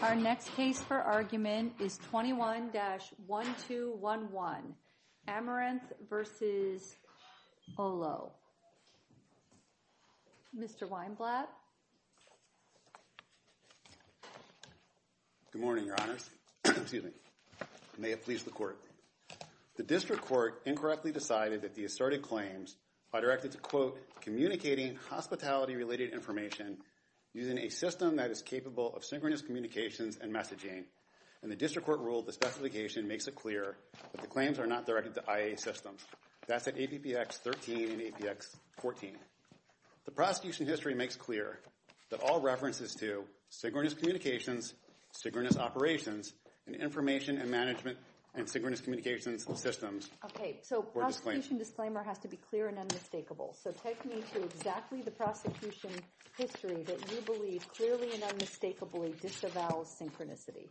Our next case for argument is 21-1211, Amaranth v. Olo. Mr. Weinblatt. Good morning, Your Honors. Excuse me. May it please the Court. The district court incorrectly decided that the asserted claims are directed to, quote, communicating hospitality-related information using a system that is capable of synchronous communications and messaging. In the district court rule, the specification makes it clear that the claims are not directed to IA systems. That's at APPX 13 and APX 14. The prosecution history makes clear that all references to synchronous communications, synchronous operations, and information and management and synchronous communications systems were disclaimed. Okay, so prosecution disclaimer has to be clear and unmistakable. So take me to exactly the prosecution history that you believe clearly and unmistakably disavows synchronicity.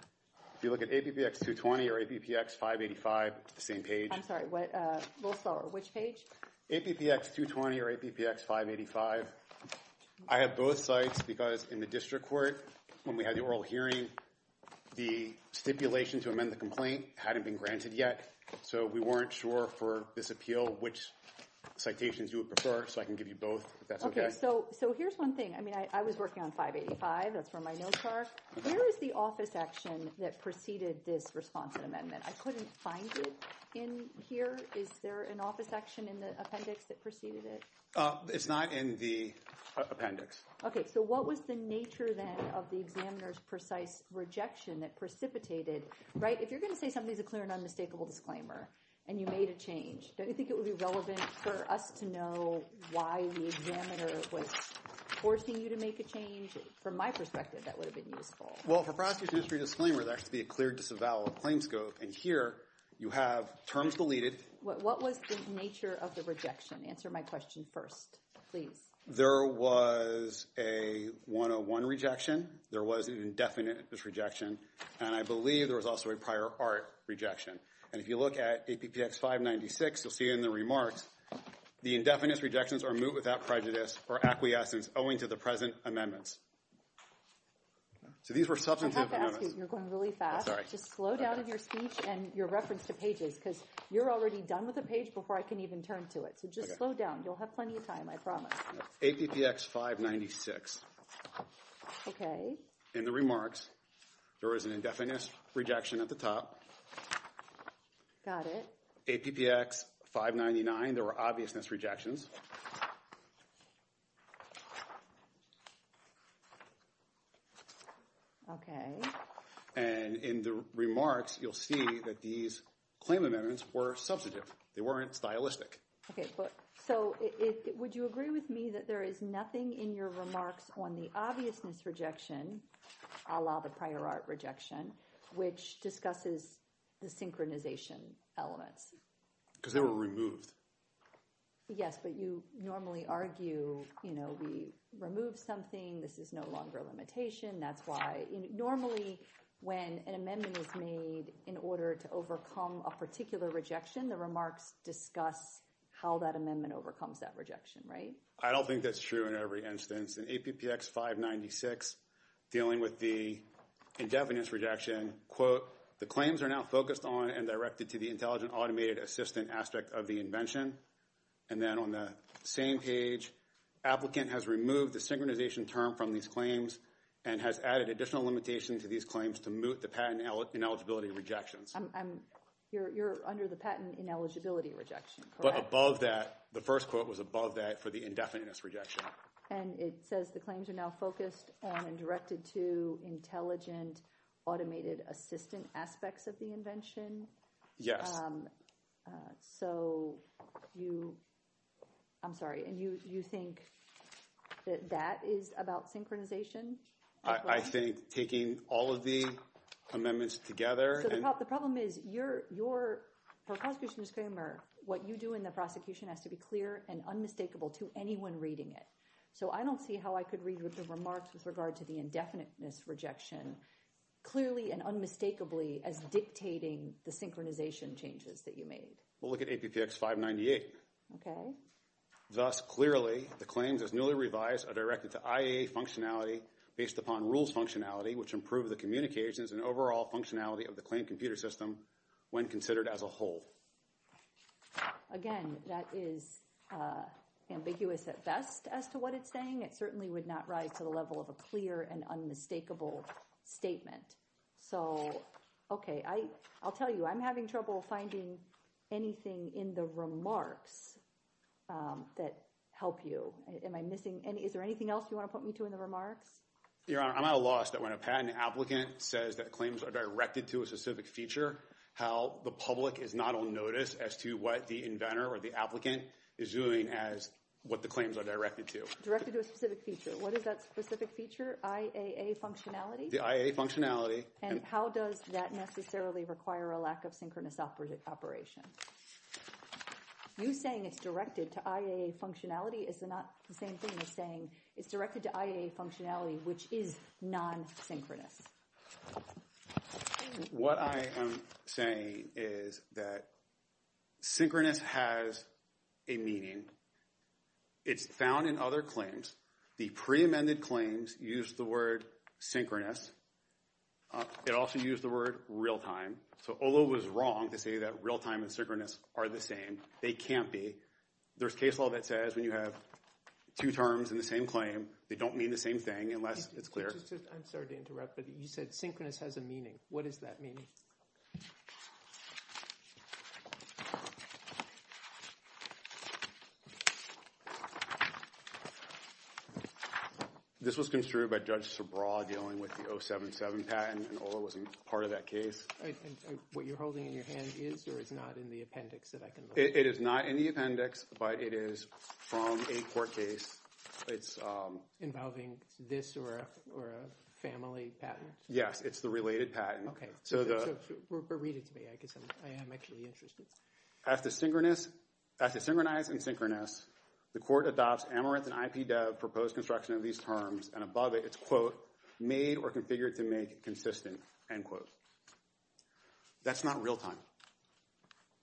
If you look at APPX 220 or APPX 585, same page. I'm sorry, what, a little slower, which page? APPX 220 or APPX 585. I have both sites because in the district court, when we had the oral hearing, the stipulation to amend the complaint hadn't been granted yet. So we weren't sure for this appeal which citations you would prefer. So I can give you both, if that's okay. Okay, so here's one thing. I mean, I was working on 585, that's where my notes are. Where is the office action that preceded this response and amendment? I couldn't find it in here. Is there an office action in the appendix that preceded it? It's not in the appendix. Okay, so what was the nature then of the examiner's precise rejection that precipitated, right, if you're gonna say something's a clear and unmistakable disclaimer and you made a change, don't you think it would be relevant for us to know why the examiner was forcing you to make a change? From my perspective, that would have been useful. Well, for Frosky's history disclaimer, there has to be a clear disavowal of claims scope. And here, you have terms deleted. What was the nature of the rejection? Answer my question first, please. There was a 101 rejection. There was an indefinite disrejection. And I believe there was also a prior art rejection. And if you look at APPX 596, you'll see in the remarks, the indefinite rejections are moot without prejudice or acquiescence owing to the present amendments. So these were substantive amendments. I have to ask you, you're going really fast. I'm sorry. Just slow down in your speech and your reference to pages because you're already done with the page before I can even turn to it. So just slow down. You'll have plenty of time, I promise. APPX 596. Okay. In the remarks, there was an indefinite rejection at the top. Got it. APPX 599, there were obviousness rejections. Okay. And in the remarks, you'll see that these claim amendments were substantive. They weren't stylistic. Okay, so would you agree with me that there is nothing in your remarks on the obviousness rejection, a la the prior art rejection, which discusses the synchronization elements? Because they were removed. Yes, but you normally argue, you know, we remove something, this is no longer a limitation. That's why, normally when an amendment is made in order to overcome a particular rejection, the remarks discuss how that amendment overcomes that rejection, right? I don't think that's true in every instance. In APPX 596, dealing with the indefiniteness rejection, quote, the claims are now focused on and directed to the intelligent automated assistant aspect of the invention. And then on the same page, applicant has removed the synchronization term from these claims and has added additional limitation to these claims to moot the patent ineligibility rejections. You're under the patent ineligibility rejection, correct? But above that, the first quote was above that for the indefiniteness rejection. And it says the claims are now focused on and directed to intelligent automated assistant aspects of the invention? Yes. So you, I'm sorry, and you think that that is about synchronization? I think taking all of the amendments together. The problem is, for a prosecution disclaimer, what you do in the prosecution has to be clear and unmistakable to anyone reading it. So I don't see how I could read your remarks with regard to the indefiniteness rejection clearly and unmistakably as dictating the synchronization changes that you made. We'll look at APPX 598. Okay. Thus, clearly, the claims as newly revised are directed to IA functionality based upon rules functionality, which improve the communications and overall functionality of the claim computer system when considered as a whole. Again, that is ambiguous at best as to what it's saying. It certainly would not rise to the level of a clear and unmistakable statement. So, okay, I'll tell you, I'm having trouble finding anything in the remarks that help you. Am I missing any, is there anything else you want to put me to in the remarks? Your Honor, I'm at a loss that when a patent applicant says that claims are directed to a specific feature, how the public is not on notice as to what the inventor or the applicant is doing as what the claims are directed to. Directed to a specific feature. What is that specific feature? IA functionality? The IA functionality. And how does that necessarily require a lack of synchronous operation? You saying it's directed to IA functionality is not the same thing as saying it's directed to IA functionality, which is non-synchronous. What I am saying is that synchronous has a meaning. It's found in other claims. The pre-amended claims use the word synchronous. It also used the word real-time. So Ola was wrong to say that real-time and synchronous are the same. They can't be. There's case law that says when you have two terms in the same claim, they don't mean the same thing unless it's clear. I'm sorry to interrupt, but you said synchronous has a meaning. What does that mean? This was construed by Judge Sobraw dealing with the 077 patent, and Ola wasn't part of that case. What you're holding in your hand is or is not in the appendix that I can look at? It is not in the appendix, but it is from a court case. It's... Involving this or a family patent? Yes, it's the related patent. Okay, so read it to me. I guess I am actually interested. After synchronized and synchronous, the court adopts Amerith and IPDEV proposed construction of these terms, and above it, it's quote, made or configured to make consistent, end quote. That's not real-time,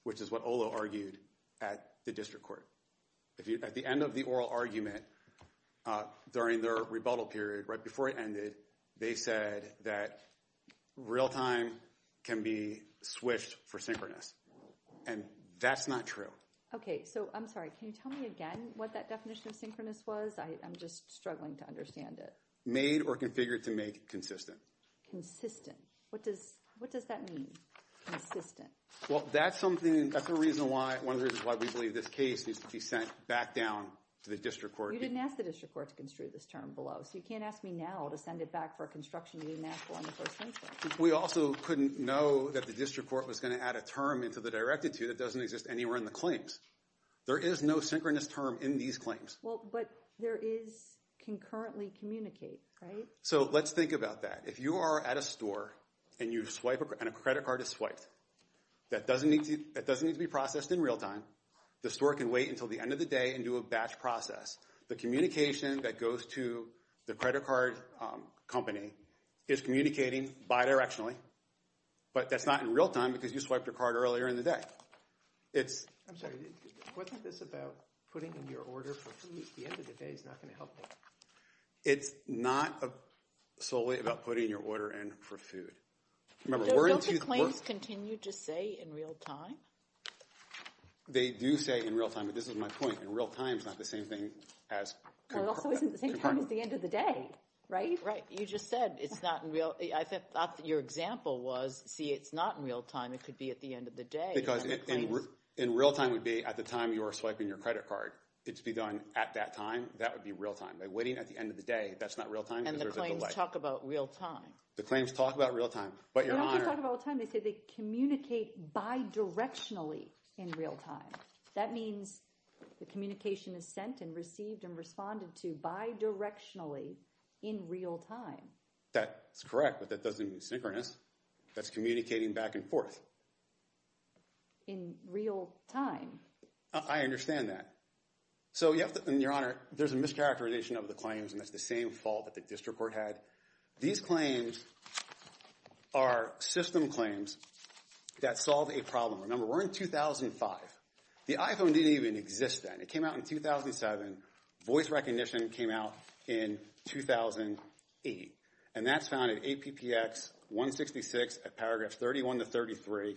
which is what Ola argued at the district court. At the end of the oral argument during their rebuttal period, right before it ended, they said that real-time can be switched for synchronous, and that's not true. Okay, so I'm sorry, can you tell me again what that definition of synchronous was? I'm just struggling to understand it. Made or configured to make consistent. Consistent. What does that mean, consistent? Well, that's something, that's a reason why, one of the reasons why we believe this case needs to be sent back down to the district court. You didn't ask the district court to construe this term below, so you can't ask me now to send it back for construction to be made on the first instance. We also couldn't know that the district court was gonna add a term into the directed to that doesn't exist anywhere in the claims. There is no synchronous term in these claims. Well, but there is concurrently communicate, right? So let's think about that. If you are at a store, and a credit card is swiped, that doesn't need to be processed in real-time, the store can wait until the end of the day and do a batch process. The communication that goes to the credit card company is communicating bi-directionally, but that's not in real-time, because you swiped your card earlier in the day. It's, I'm sorry, wasn't this about putting in your order for food at the end of the day is not gonna help me? It's not solely about putting your order in for food. Remember, we're into, Don't the claims continue to say in real-time? They do say in real-time, but this is my point. In real-time is not the same thing as concurrently. Well, it also isn't the same time as the end of the day, right? Right, you just said it's not in real, I thought that your example was, see, it's not in real-time, it could be at the end of the day. Because in real-time would be at the time you are swiping your credit card. It's be done at that time, that would be real-time. By waiting at the end of the day, that's not real-time, because there's a delay. And the claims talk about real-time. The claims talk about real-time, but your honor. They don't just talk about real-time. They say they communicate bi-directionally in real-time. That means the communication is sent and received and responded to bi-directionally in real-time. That's correct, but that doesn't mean synchronous. That's communicating back and forth. In real-time. I understand that. So you have to, and your honor, there's a mischaracterization of the claims, and that's the same fault that the district court had. These claims are system claims that solve a problem. Remember, we're in 2005. The iPhone didn't even exist then. It came out in 2007. Voice recognition came out in 2008. And that's found in APPX 166 at paragraph 31 to 33.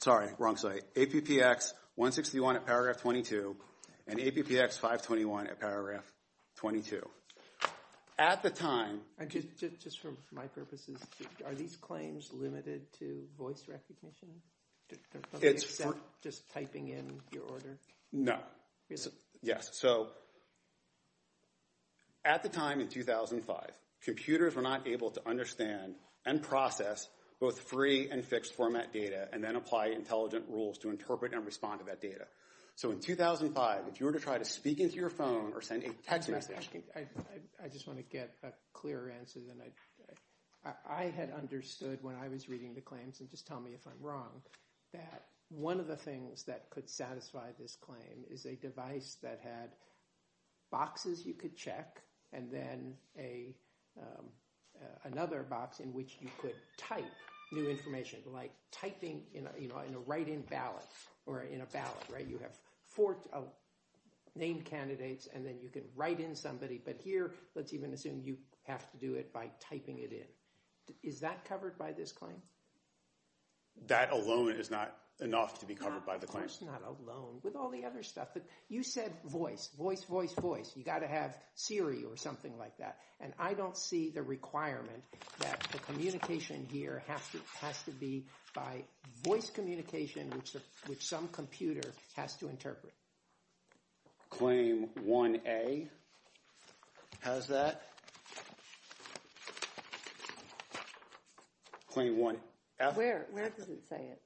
Sorry, wrong slide. APPX 161 at paragraph 22, and APPX 521 at paragraph 22. At the time... Just for my purposes, are these claims limited to voice recognition? Just typing in your order? No. Yes, so at the time in 2005, computers were not able to understand and process both free and fixed format data and then apply intelligent rules to interpret and respond to that data. So in 2005, if you were to try to speak into your phone or send a text message... I just want to get a clearer answer than I... I had understood when I was reading the claims, and just tell me if I'm wrong, that one of the things that could satisfy this claim is a device that had boxes you could check and then another box in which you could type new information like typing in a write-in ballot or in a ballot, right? You have four named candidates and then you can write in somebody, but here, let's even assume you have to do it by typing it in. Is that covered by this claim? That alone is not enough to be covered by the claims. Of course not alone, with all the other stuff. You said voice, voice, voice, voice. You got to have Siri or something like that. And I don't see the requirement that the communication here has to be by voice communication, which some computer has to interpret. Claim 1A has that. Claim 1F... Where, where does it say it?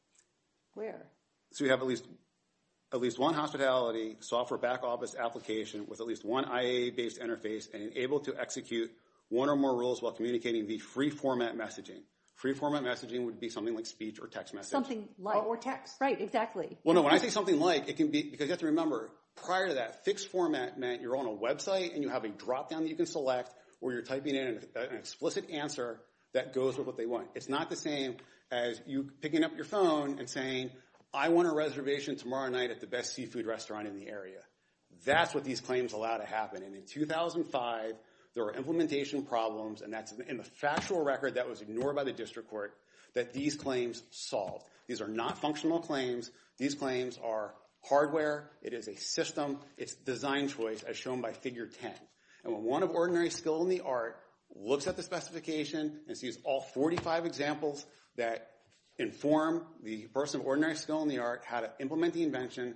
Where? So we have at least one hospitality, software back office application with at least one IA based interface and able to execute one or more rules while communicating the free format messaging. Free format messaging would be something like speech or text message. Something like. Or text. Right, exactly. Well, no, when I say something like, it can be, because you have to remember, prior to that, fixed format meant you're on a website and you have a dropdown that you can select where you're typing in an explicit answer that goes with what they want. It's not the same as you picking up your phone and saying, I want a reservation tomorrow night at the best seafood restaurant in the area. That's what these claims allow to happen. And in 2005, there were implementation problems and that's in the factual record that was ignored by the district court that these claims solved. These are not functional claims. These claims are hardware. It is a system. It's design choice as shown by figure 10. And when one of ordinary skill in the art looks at the specification and sees all 45 examples that inform the person of ordinary skill in the art how to implement the invention,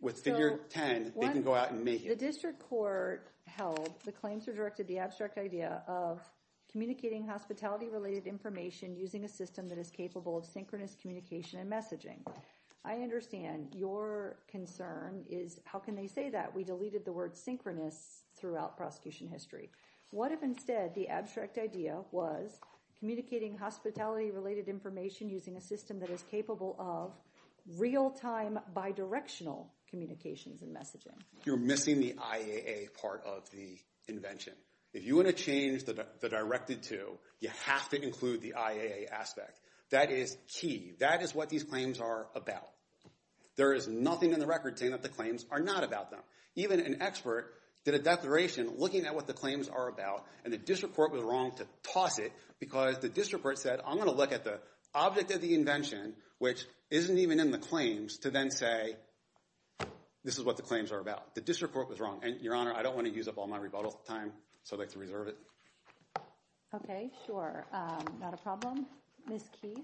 with figure 10, they can go out and make it. The district court held, the claims were directed the abstract idea of communicating hospitality related information using a system that is capable of synchronous communication and messaging. I understand your concern is how can they say that? We deleted the word synchronous throughout prosecution history. What if instead the abstract idea was communicating hospitality related information using a system that is capable of real time bi-directional communications and messaging? You're missing the IAA part of the invention. If you want to change the directed to, you have to include the IAA aspect. That is key. That is what these claims are about. There is nothing in the record saying that the claims are not about them. Even an expert did a declaration looking at what the claims are about and the district court was wrong to toss it because the district court said, I'm gonna look at the object of the invention which isn't even in the claims to then say, this is what the claims are about. The district court was wrong. And your honor, I don't wanna use up all my rebuttal time, so I'd like to reserve it. Okay, sure. Not a problem. Ms. Key.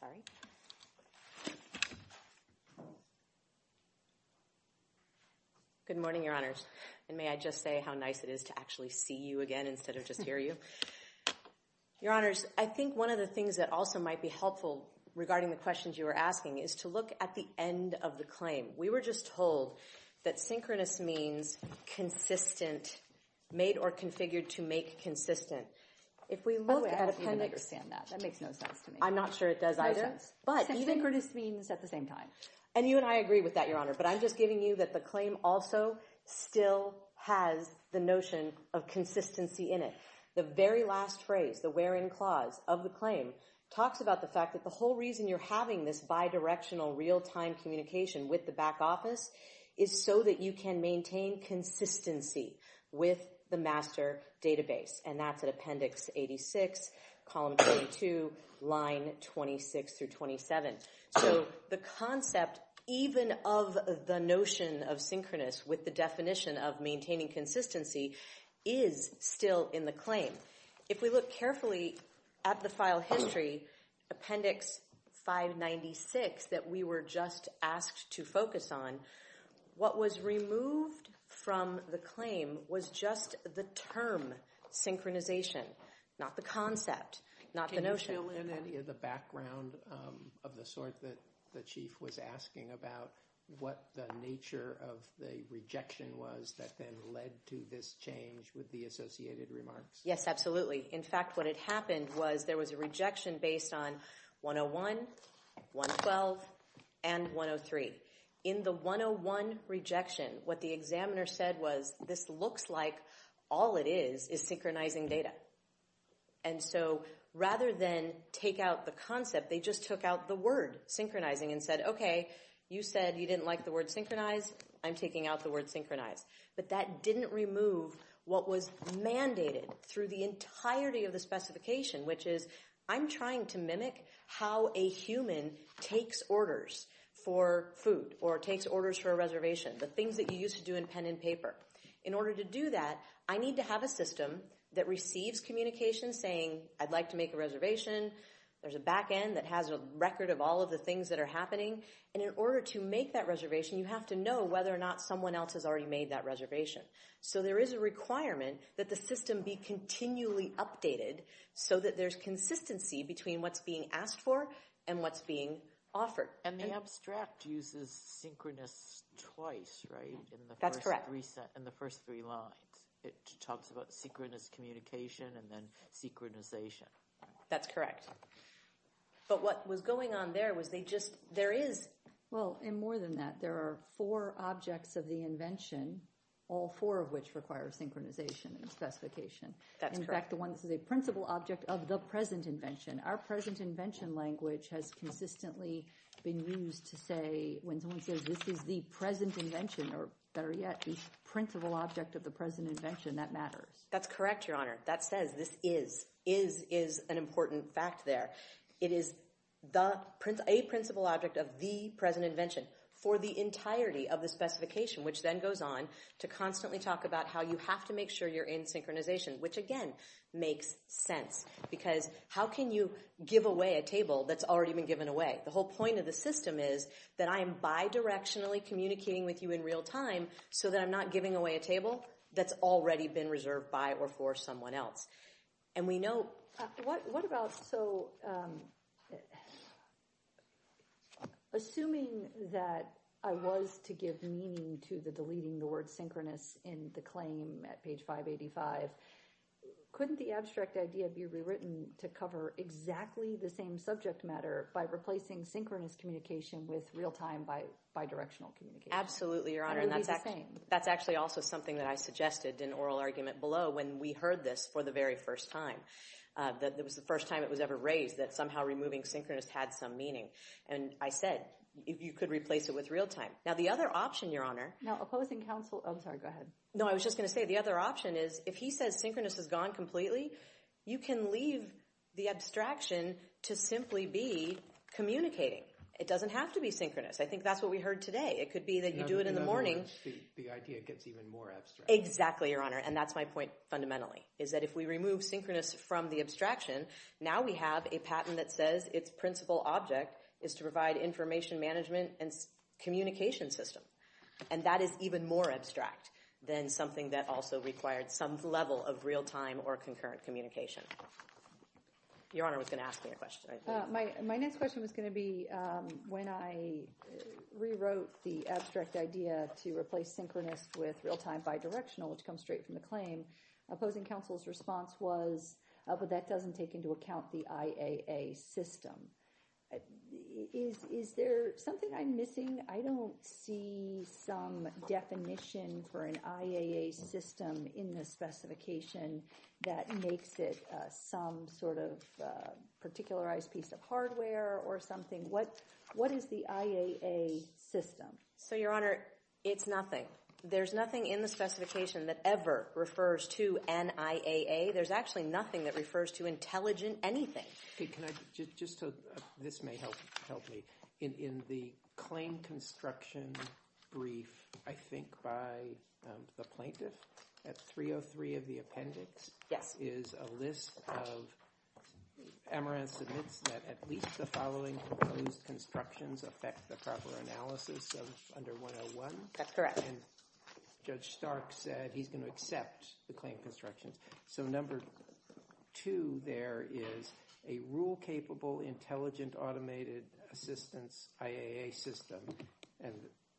Sorry. Good morning, your honors. And may I just say how nice it is to actually see you again instead of just hear you. Your honors, I think one of the things that also might be helpful regarding the questions you were asking is to look at the end of the claim. We were just told that synchronous means consistent, made or configured to make consistent. If we look at a kind of- I don't even understand that. That makes no sense to me. I'm not sure it does either. But even- Synchronous means at the same time. And you and I agree with that, your honor. But I'm just giving you that the claim also still has the notion of consistency in it. The very last phrase, the where in clause of the claim talks about the fact that the whole reason you're having this bidirectional real-time communication with the back office is so that you can maintain consistency with the master database. And that's at appendix 86, column 22, line 26 through 27. So the concept, even of the notion of synchronous with the definition of maintaining consistency is still in the claim. If we look carefully at the file history, appendix 596 that we were just asked to focus on, what was removed from the claim was just the term synchronization, not the concept, not the notion. Is that still in any of the background of the sort that the chief was asking about what the nature of the rejection was that then led to this change with the associated remarks? Yes, absolutely. In fact, what had happened was there was a rejection based on 101, 112, and 103. In the 101 rejection, what the examiner said was this looks like all it is is synchronizing data. And so rather than take out the concept, they just took out the word synchronizing and said, okay, you said you didn't like the word synchronize, I'm taking out the word synchronize. But that didn't remove what was mandated through the entirety of the specification, which is I'm trying to mimic how a human takes orders for food or takes orders for a reservation, the things that you used to do in pen and paper. In order to do that, I need to have a system that receives communication saying, I'd like to make a reservation. There's a back end that has a record of all of the things that are happening. And in order to make that reservation, you have to know whether or not someone else has already made that reservation. So there is a requirement that the system be continually updated so that there's consistency between what's being asked for and what's being offered. And the abstract uses synchronous twice, right? That's correct. In the first three lines, it talks about synchronous communication and then synchronization. That's correct. But what was going on there was they just, there is. Well, and more than that, there are four objects of the invention, all four of which require synchronization and specification. That's correct. In fact, the one that's a principal object of the present invention. Our present invention language has consistently been used to say, when someone says this is the present invention, or better yet, the principal object of the present invention, that matters. That's correct, Your Honor. That says this is, is, is an important fact there. It is a principal object of the present invention for the entirety of the specification, which then goes on to constantly talk about how you have to make sure you're in synchronization, which again, makes sense. Because how can you give away a table that's already been given away? The whole point of the system is that I am bidirectionally communicating with you in real time so that I'm not giving away a table that's already been reserved by or for someone else. And we know- What about, so, assuming that I was to give meaning to the deleting the word synchronous in the claim at page 585, couldn't the abstract idea be rewritten to cover exactly the same subject matter by replacing synchronous communication with real time bidirectional communication? Absolutely, Your Honor. And that's actually also something that I suggested in oral argument below when we heard this for the very first time. That it was the first time it was ever raised that somehow removing synchronous had some meaning. And I said, you could replace it with real time. Now, the other option, Your Honor- Now, opposing counsel, oh, I'm sorry, go ahead. No, I was just gonna say the other option is if he says synchronous is gone completely, you can leave the abstraction to simply be communicating. It doesn't have to be synchronous. I think that's what we heard today. It could be that you do it in the morning- The idea gets even more abstract. Exactly, Your Honor. And that's my point fundamentally, is that if we remove synchronous from the abstraction, now we have a patent that says its principal object is to provide information management and communication system. And that is even more abstract than something that also required some level of real time or concurrent communication. Your Honor was gonna ask me a question. My next question was gonna be when I rewrote the abstract idea to replace synchronous with real time bidirectional, which comes straight from the claim, opposing counsel's response was, but that doesn't take into account the IAA system. Is there something I'm missing? I don't see some definition for an IAA system in this specification that makes it some sort of particularized piece of hardware or something. What is the IAA system? So, Your Honor, it's nothing. There's nothing in the specification that ever refers to an IAA. There's actually nothing that refers to intelligent anything. Okay, can I just, this may help me. In the claim construction brief, I think by the plaintiff at 303 of the appendix, is a list of, Amaranth admits that at least the following proposed constructions affect the proper analysis of under 101. That's correct. And Judge Stark said he's gonna accept the claim constructions. So number two there is a rule-capable, intelligent automated assistance IAA system, and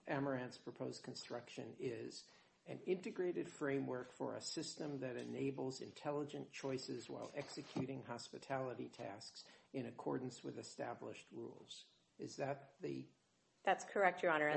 Amaranth's proposed construction is an integrated framework for a system that enables intelligent choices while executing hospitality tasks in accordance with established rules. Is that the? That's correct, Your Honor.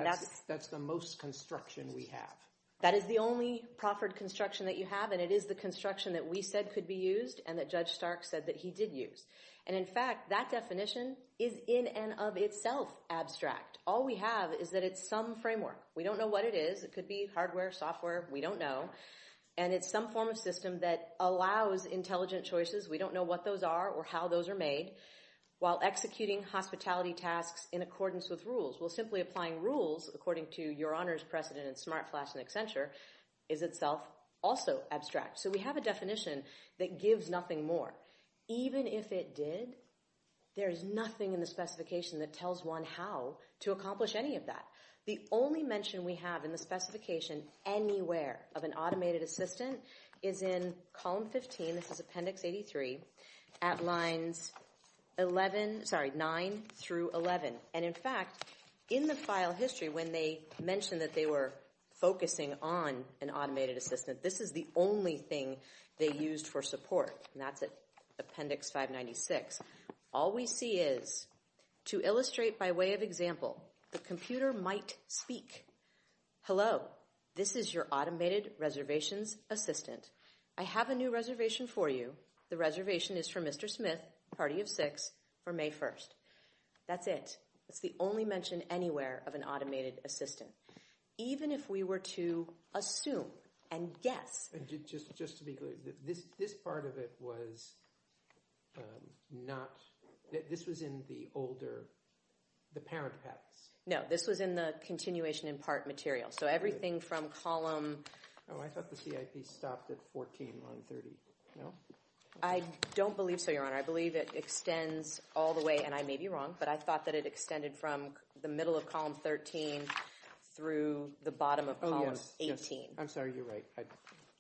That's the most construction we have. That is the only proffered construction that you have, and it is the construction that we said could be used and that Judge Stark said that he did use. And in fact, that definition is in and of itself abstract. All we have is that it's some framework. We don't know what it is. It could be hardware, software, we don't know. And it's some form of system that allows intelligent choices. We don't know what those are or how those are made while executing hospitality tasks in accordance with rules. Well, simply applying rules according to Your Honor's precedent in Smart Flask and Accenture is itself also abstract. So we have a definition that gives nothing more. Even if it did, there is nothing in the specification that tells one how to accomplish any of that. The only mention we have in the specification anywhere of an automated assistant is in column 15. This is Appendix 83, at lines 11, sorry, 9 through 11. And in fact, in the file history, when they mentioned that they were focusing on an automated assistant, this is the only thing they used for support. And that's at Appendix 596. All we see is, to illustrate by way of example, the computer might speak. Hello, this is your automated reservations assistant. I have a new reservation for you. The reservation is for Mr. Smith, party of six, for May 1st. That's it. That's the only mention anywhere of an automated assistant. Even if we were to assume and guess. Just to be clear, this part of it was not, this was in the older, the parent patents. No, this was in the continuation in part material. So everything from column. Oh, I thought the CIP stopped at 14 on 30, no? I don't believe so, your honor. I believe it extends all the way, and I may be wrong, but I thought that it extended from the middle of column 13 through the bottom of column 18. I'm sorry, you're right.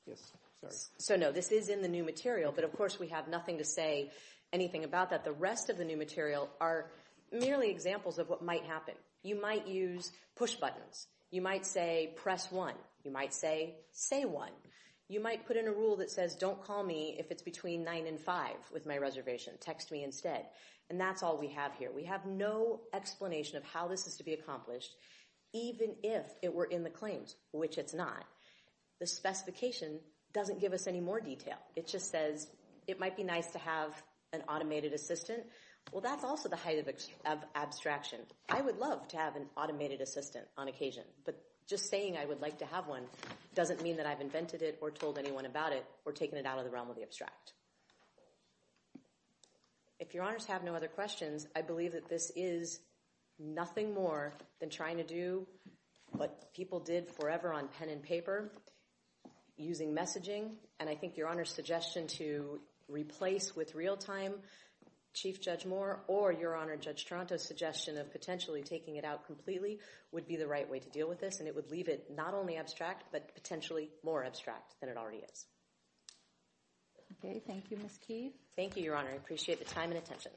Yes, sorry. So no, this is in the new material, but of course we have nothing to say anything about that. The rest of the new material are merely examples of what might happen. You might use push buttons. You might say, press one. You might say, say one. You might put in a rule that says, don't call me if it's between nine and five with my reservation. Text me instead. And that's all we have here. We have no explanation of how this is to be accomplished, even if it were in the claims, which it's not. The specification doesn't give us any more detail. It just says, it might be nice to have an automated assistant. Well, that's also the height of abstraction. I would love to have an automated assistant on occasion, but just saying I would like to have one doesn't mean that I've invented it or told anyone about it or taken it out of the realm of the abstract. If your honors have no other questions, I believe that this is nothing more than trying to do what people did forever on pen and paper, using messaging. And I think your honor's suggestion to replace with real-time Chief Judge Moore or your honor Judge Tronto's suggestion of potentially taking it out completely would be the right way to deal with this. And it would leave it not only abstract, but potentially more abstract than it already is. Okay, thank you, Ms. Keefe. Thank you, your honor. I appreciate the time and attention.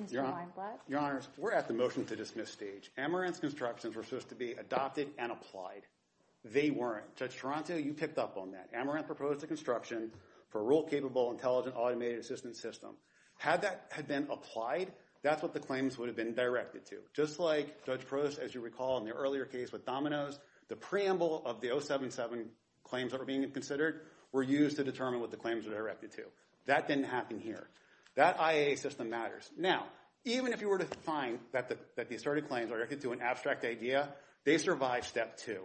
Mr. Weinblatt. Your honors, we're at the motion to dismiss stage. Amaranth's constructions were supposed to be adopted and applied. They weren't. Judge Tronto, you picked up on that. Amaranth proposed a construction for a rule-capable intelligent automated assistant system. Had that had been applied, that's what the claims would have been directed to. Just like Judge Prost, as you recall, in the earlier case with Domino's, the preamble of the 077 claims that were being considered were used to determine what the claims were directed to. That didn't happen here. That IAA system matters. Now, even if you were to find that the asserted claims are directed to an abstract idea, they survive step two.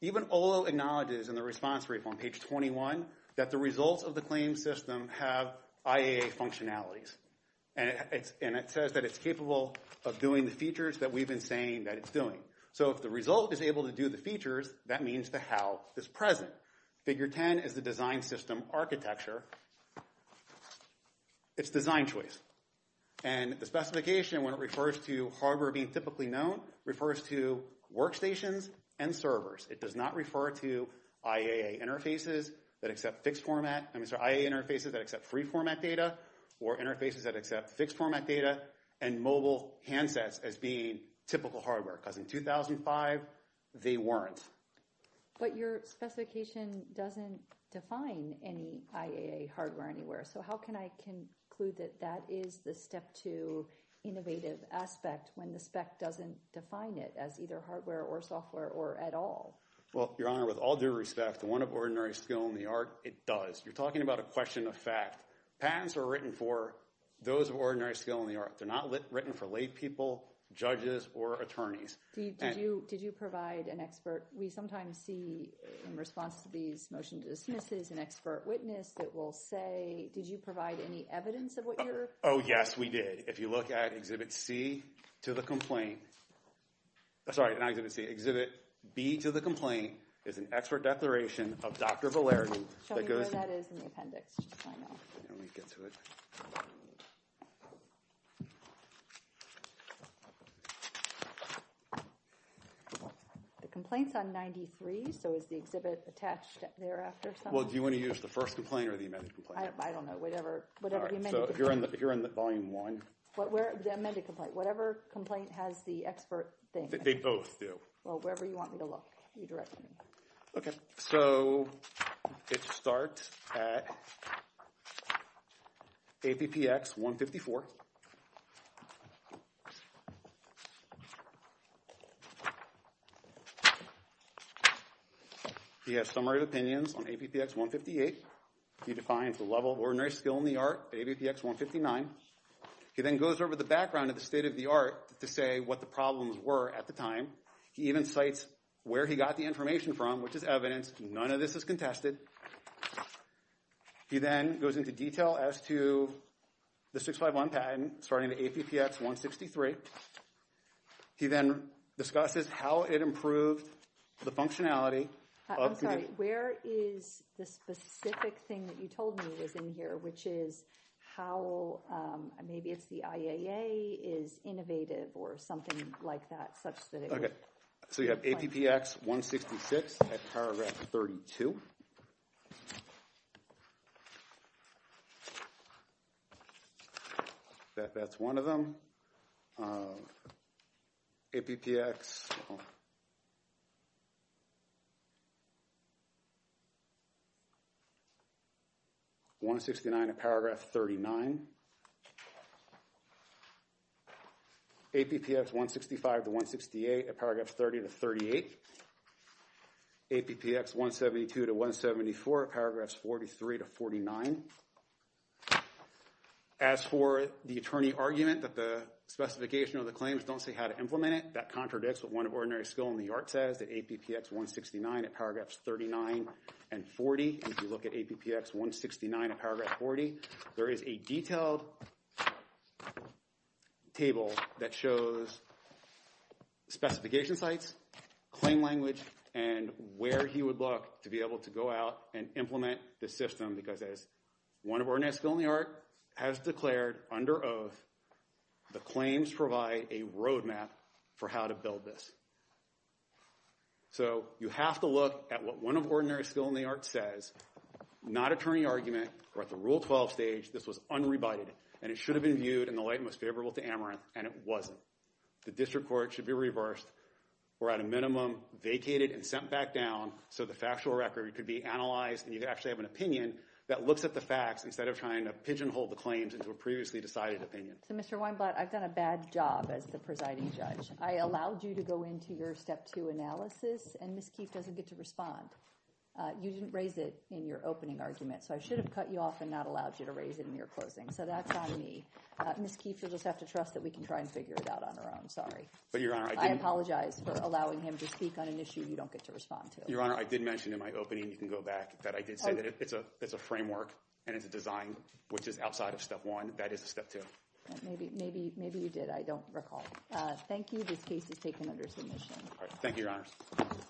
Even Olo acknowledges in the response brief on page 21 that the results of the claim system have IAA functionalities. And it says that it's capable of doing the features that we've been saying that it's doing. So if the result is able to do the features, that means the how is present. Figure 10 is the design system architecture. It's design choice. And the specification, when it refers to hardware being typically known, refers to workstations and servers. It does not refer to IAA interfaces that accept fixed format. I'm sorry, IAA interfaces that accept free format data or interfaces that accept fixed format data and mobile handsets as being typical hardware because in 2005, they weren't. But your specification doesn't define any IAA hardware anywhere. So how can I conclude that that is the step two innovative aspect when the spec doesn't define it as either hardware or software or at all? Well, Your Honor, with all due respect, the one of ordinary skill in the art, it does. You're talking about a question of fact. Patents are written for those of ordinary skill in the art. They're not written for laypeople, judges, or attorneys. Did you provide an expert? We sometimes see in response to these motion dismisses an expert witness that will say, did you provide any evidence of what you're? Oh yes, we did. If you look at Exhibit C to the complaint. Sorry, not Exhibit C. Exhibit B to the complaint is an expert declaration of Dr. Valerian that goes to. Show me where that is in the appendix, just so I know. Let me get to it. The complaint's on 93, so is the exhibit attached thereafter somehow? Well, do you want to use the first complaint or the amended complaint? I don't know. Whatever the amended complaint. All right, so if you're in the volume one. The amended complaint. Whatever complaint has the expert thing. They both do. Well, wherever you want me to look, you direct me. OK, so it starts at APPX 154. He has summary of opinions on APPX 158. He defines the level of ordinary skill in the art, APPX 159. He then goes over the background of the state of the art to say what the problems were at the time. He even cites where he got the information from, which is evidence. None of this is contested. He then goes into detail as to the 651 patent, starting at APPX 163. He then discusses how it improved the functionality. I'm sorry, where is the specific thing that you told me was in here, which is how maybe it's the IAA is innovative or something like that, such that it was. So you have APPX 166 at paragraph 32. That's one of them. APPX 169 at paragraph 39. APPX 165 to 168 at paragraph 30 to 38. APPX 172 to 174 at paragraphs 43 to 49. As for the attorney argument that the specification of the claims don't say how to implement it, that contradicts what one of ordinary skill in the art says, that APPX 169 at paragraphs 39 and 40. If you look at APPX 169 at paragraph 40, there is a detailed table that shows specification sites, claim language, and where he would look to be able to go out and implement the system, because as one of ordinary skill in the art has declared under oath, the claims provide a roadmap for how to build this. So you have to look at what one of ordinary skill in the art says, not attorney argument, or at the Rule 12 stage, this was unrebited, and it should have been viewed in the light most favorable to Amaranth, and it wasn't. The district court should be reversed, or at a minimum, vacated and sent back down so the factual record could be analyzed and you could actually have an opinion that looks at the facts instead of trying to pigeonhole the claims into a previously decided opinion. So Mr. Weinblatt, I've done a bad job as the presiding judge. I allowed you to go into your step two analysis, and Ms. Keefe doesn't get to respond. You didn't raise it in your opening argument, so I should have cut you off and not allowed you to raise it in your closing. So that's on me. Ms. Keefe, you'll just have to trust that we can try and figure it out on our own. Sorry. But Your Honor, I didn't. I apologize for allowing him to speak on an issue you don't get to respond to. Your Honor, I did mention in my opening, and you can go back, that I did say that it's a framework and it's a design, which is outside of step one. That is step two. Maybe you did. I don't recall. Thank you. This case is taken under submission. Thank you, Your Honors.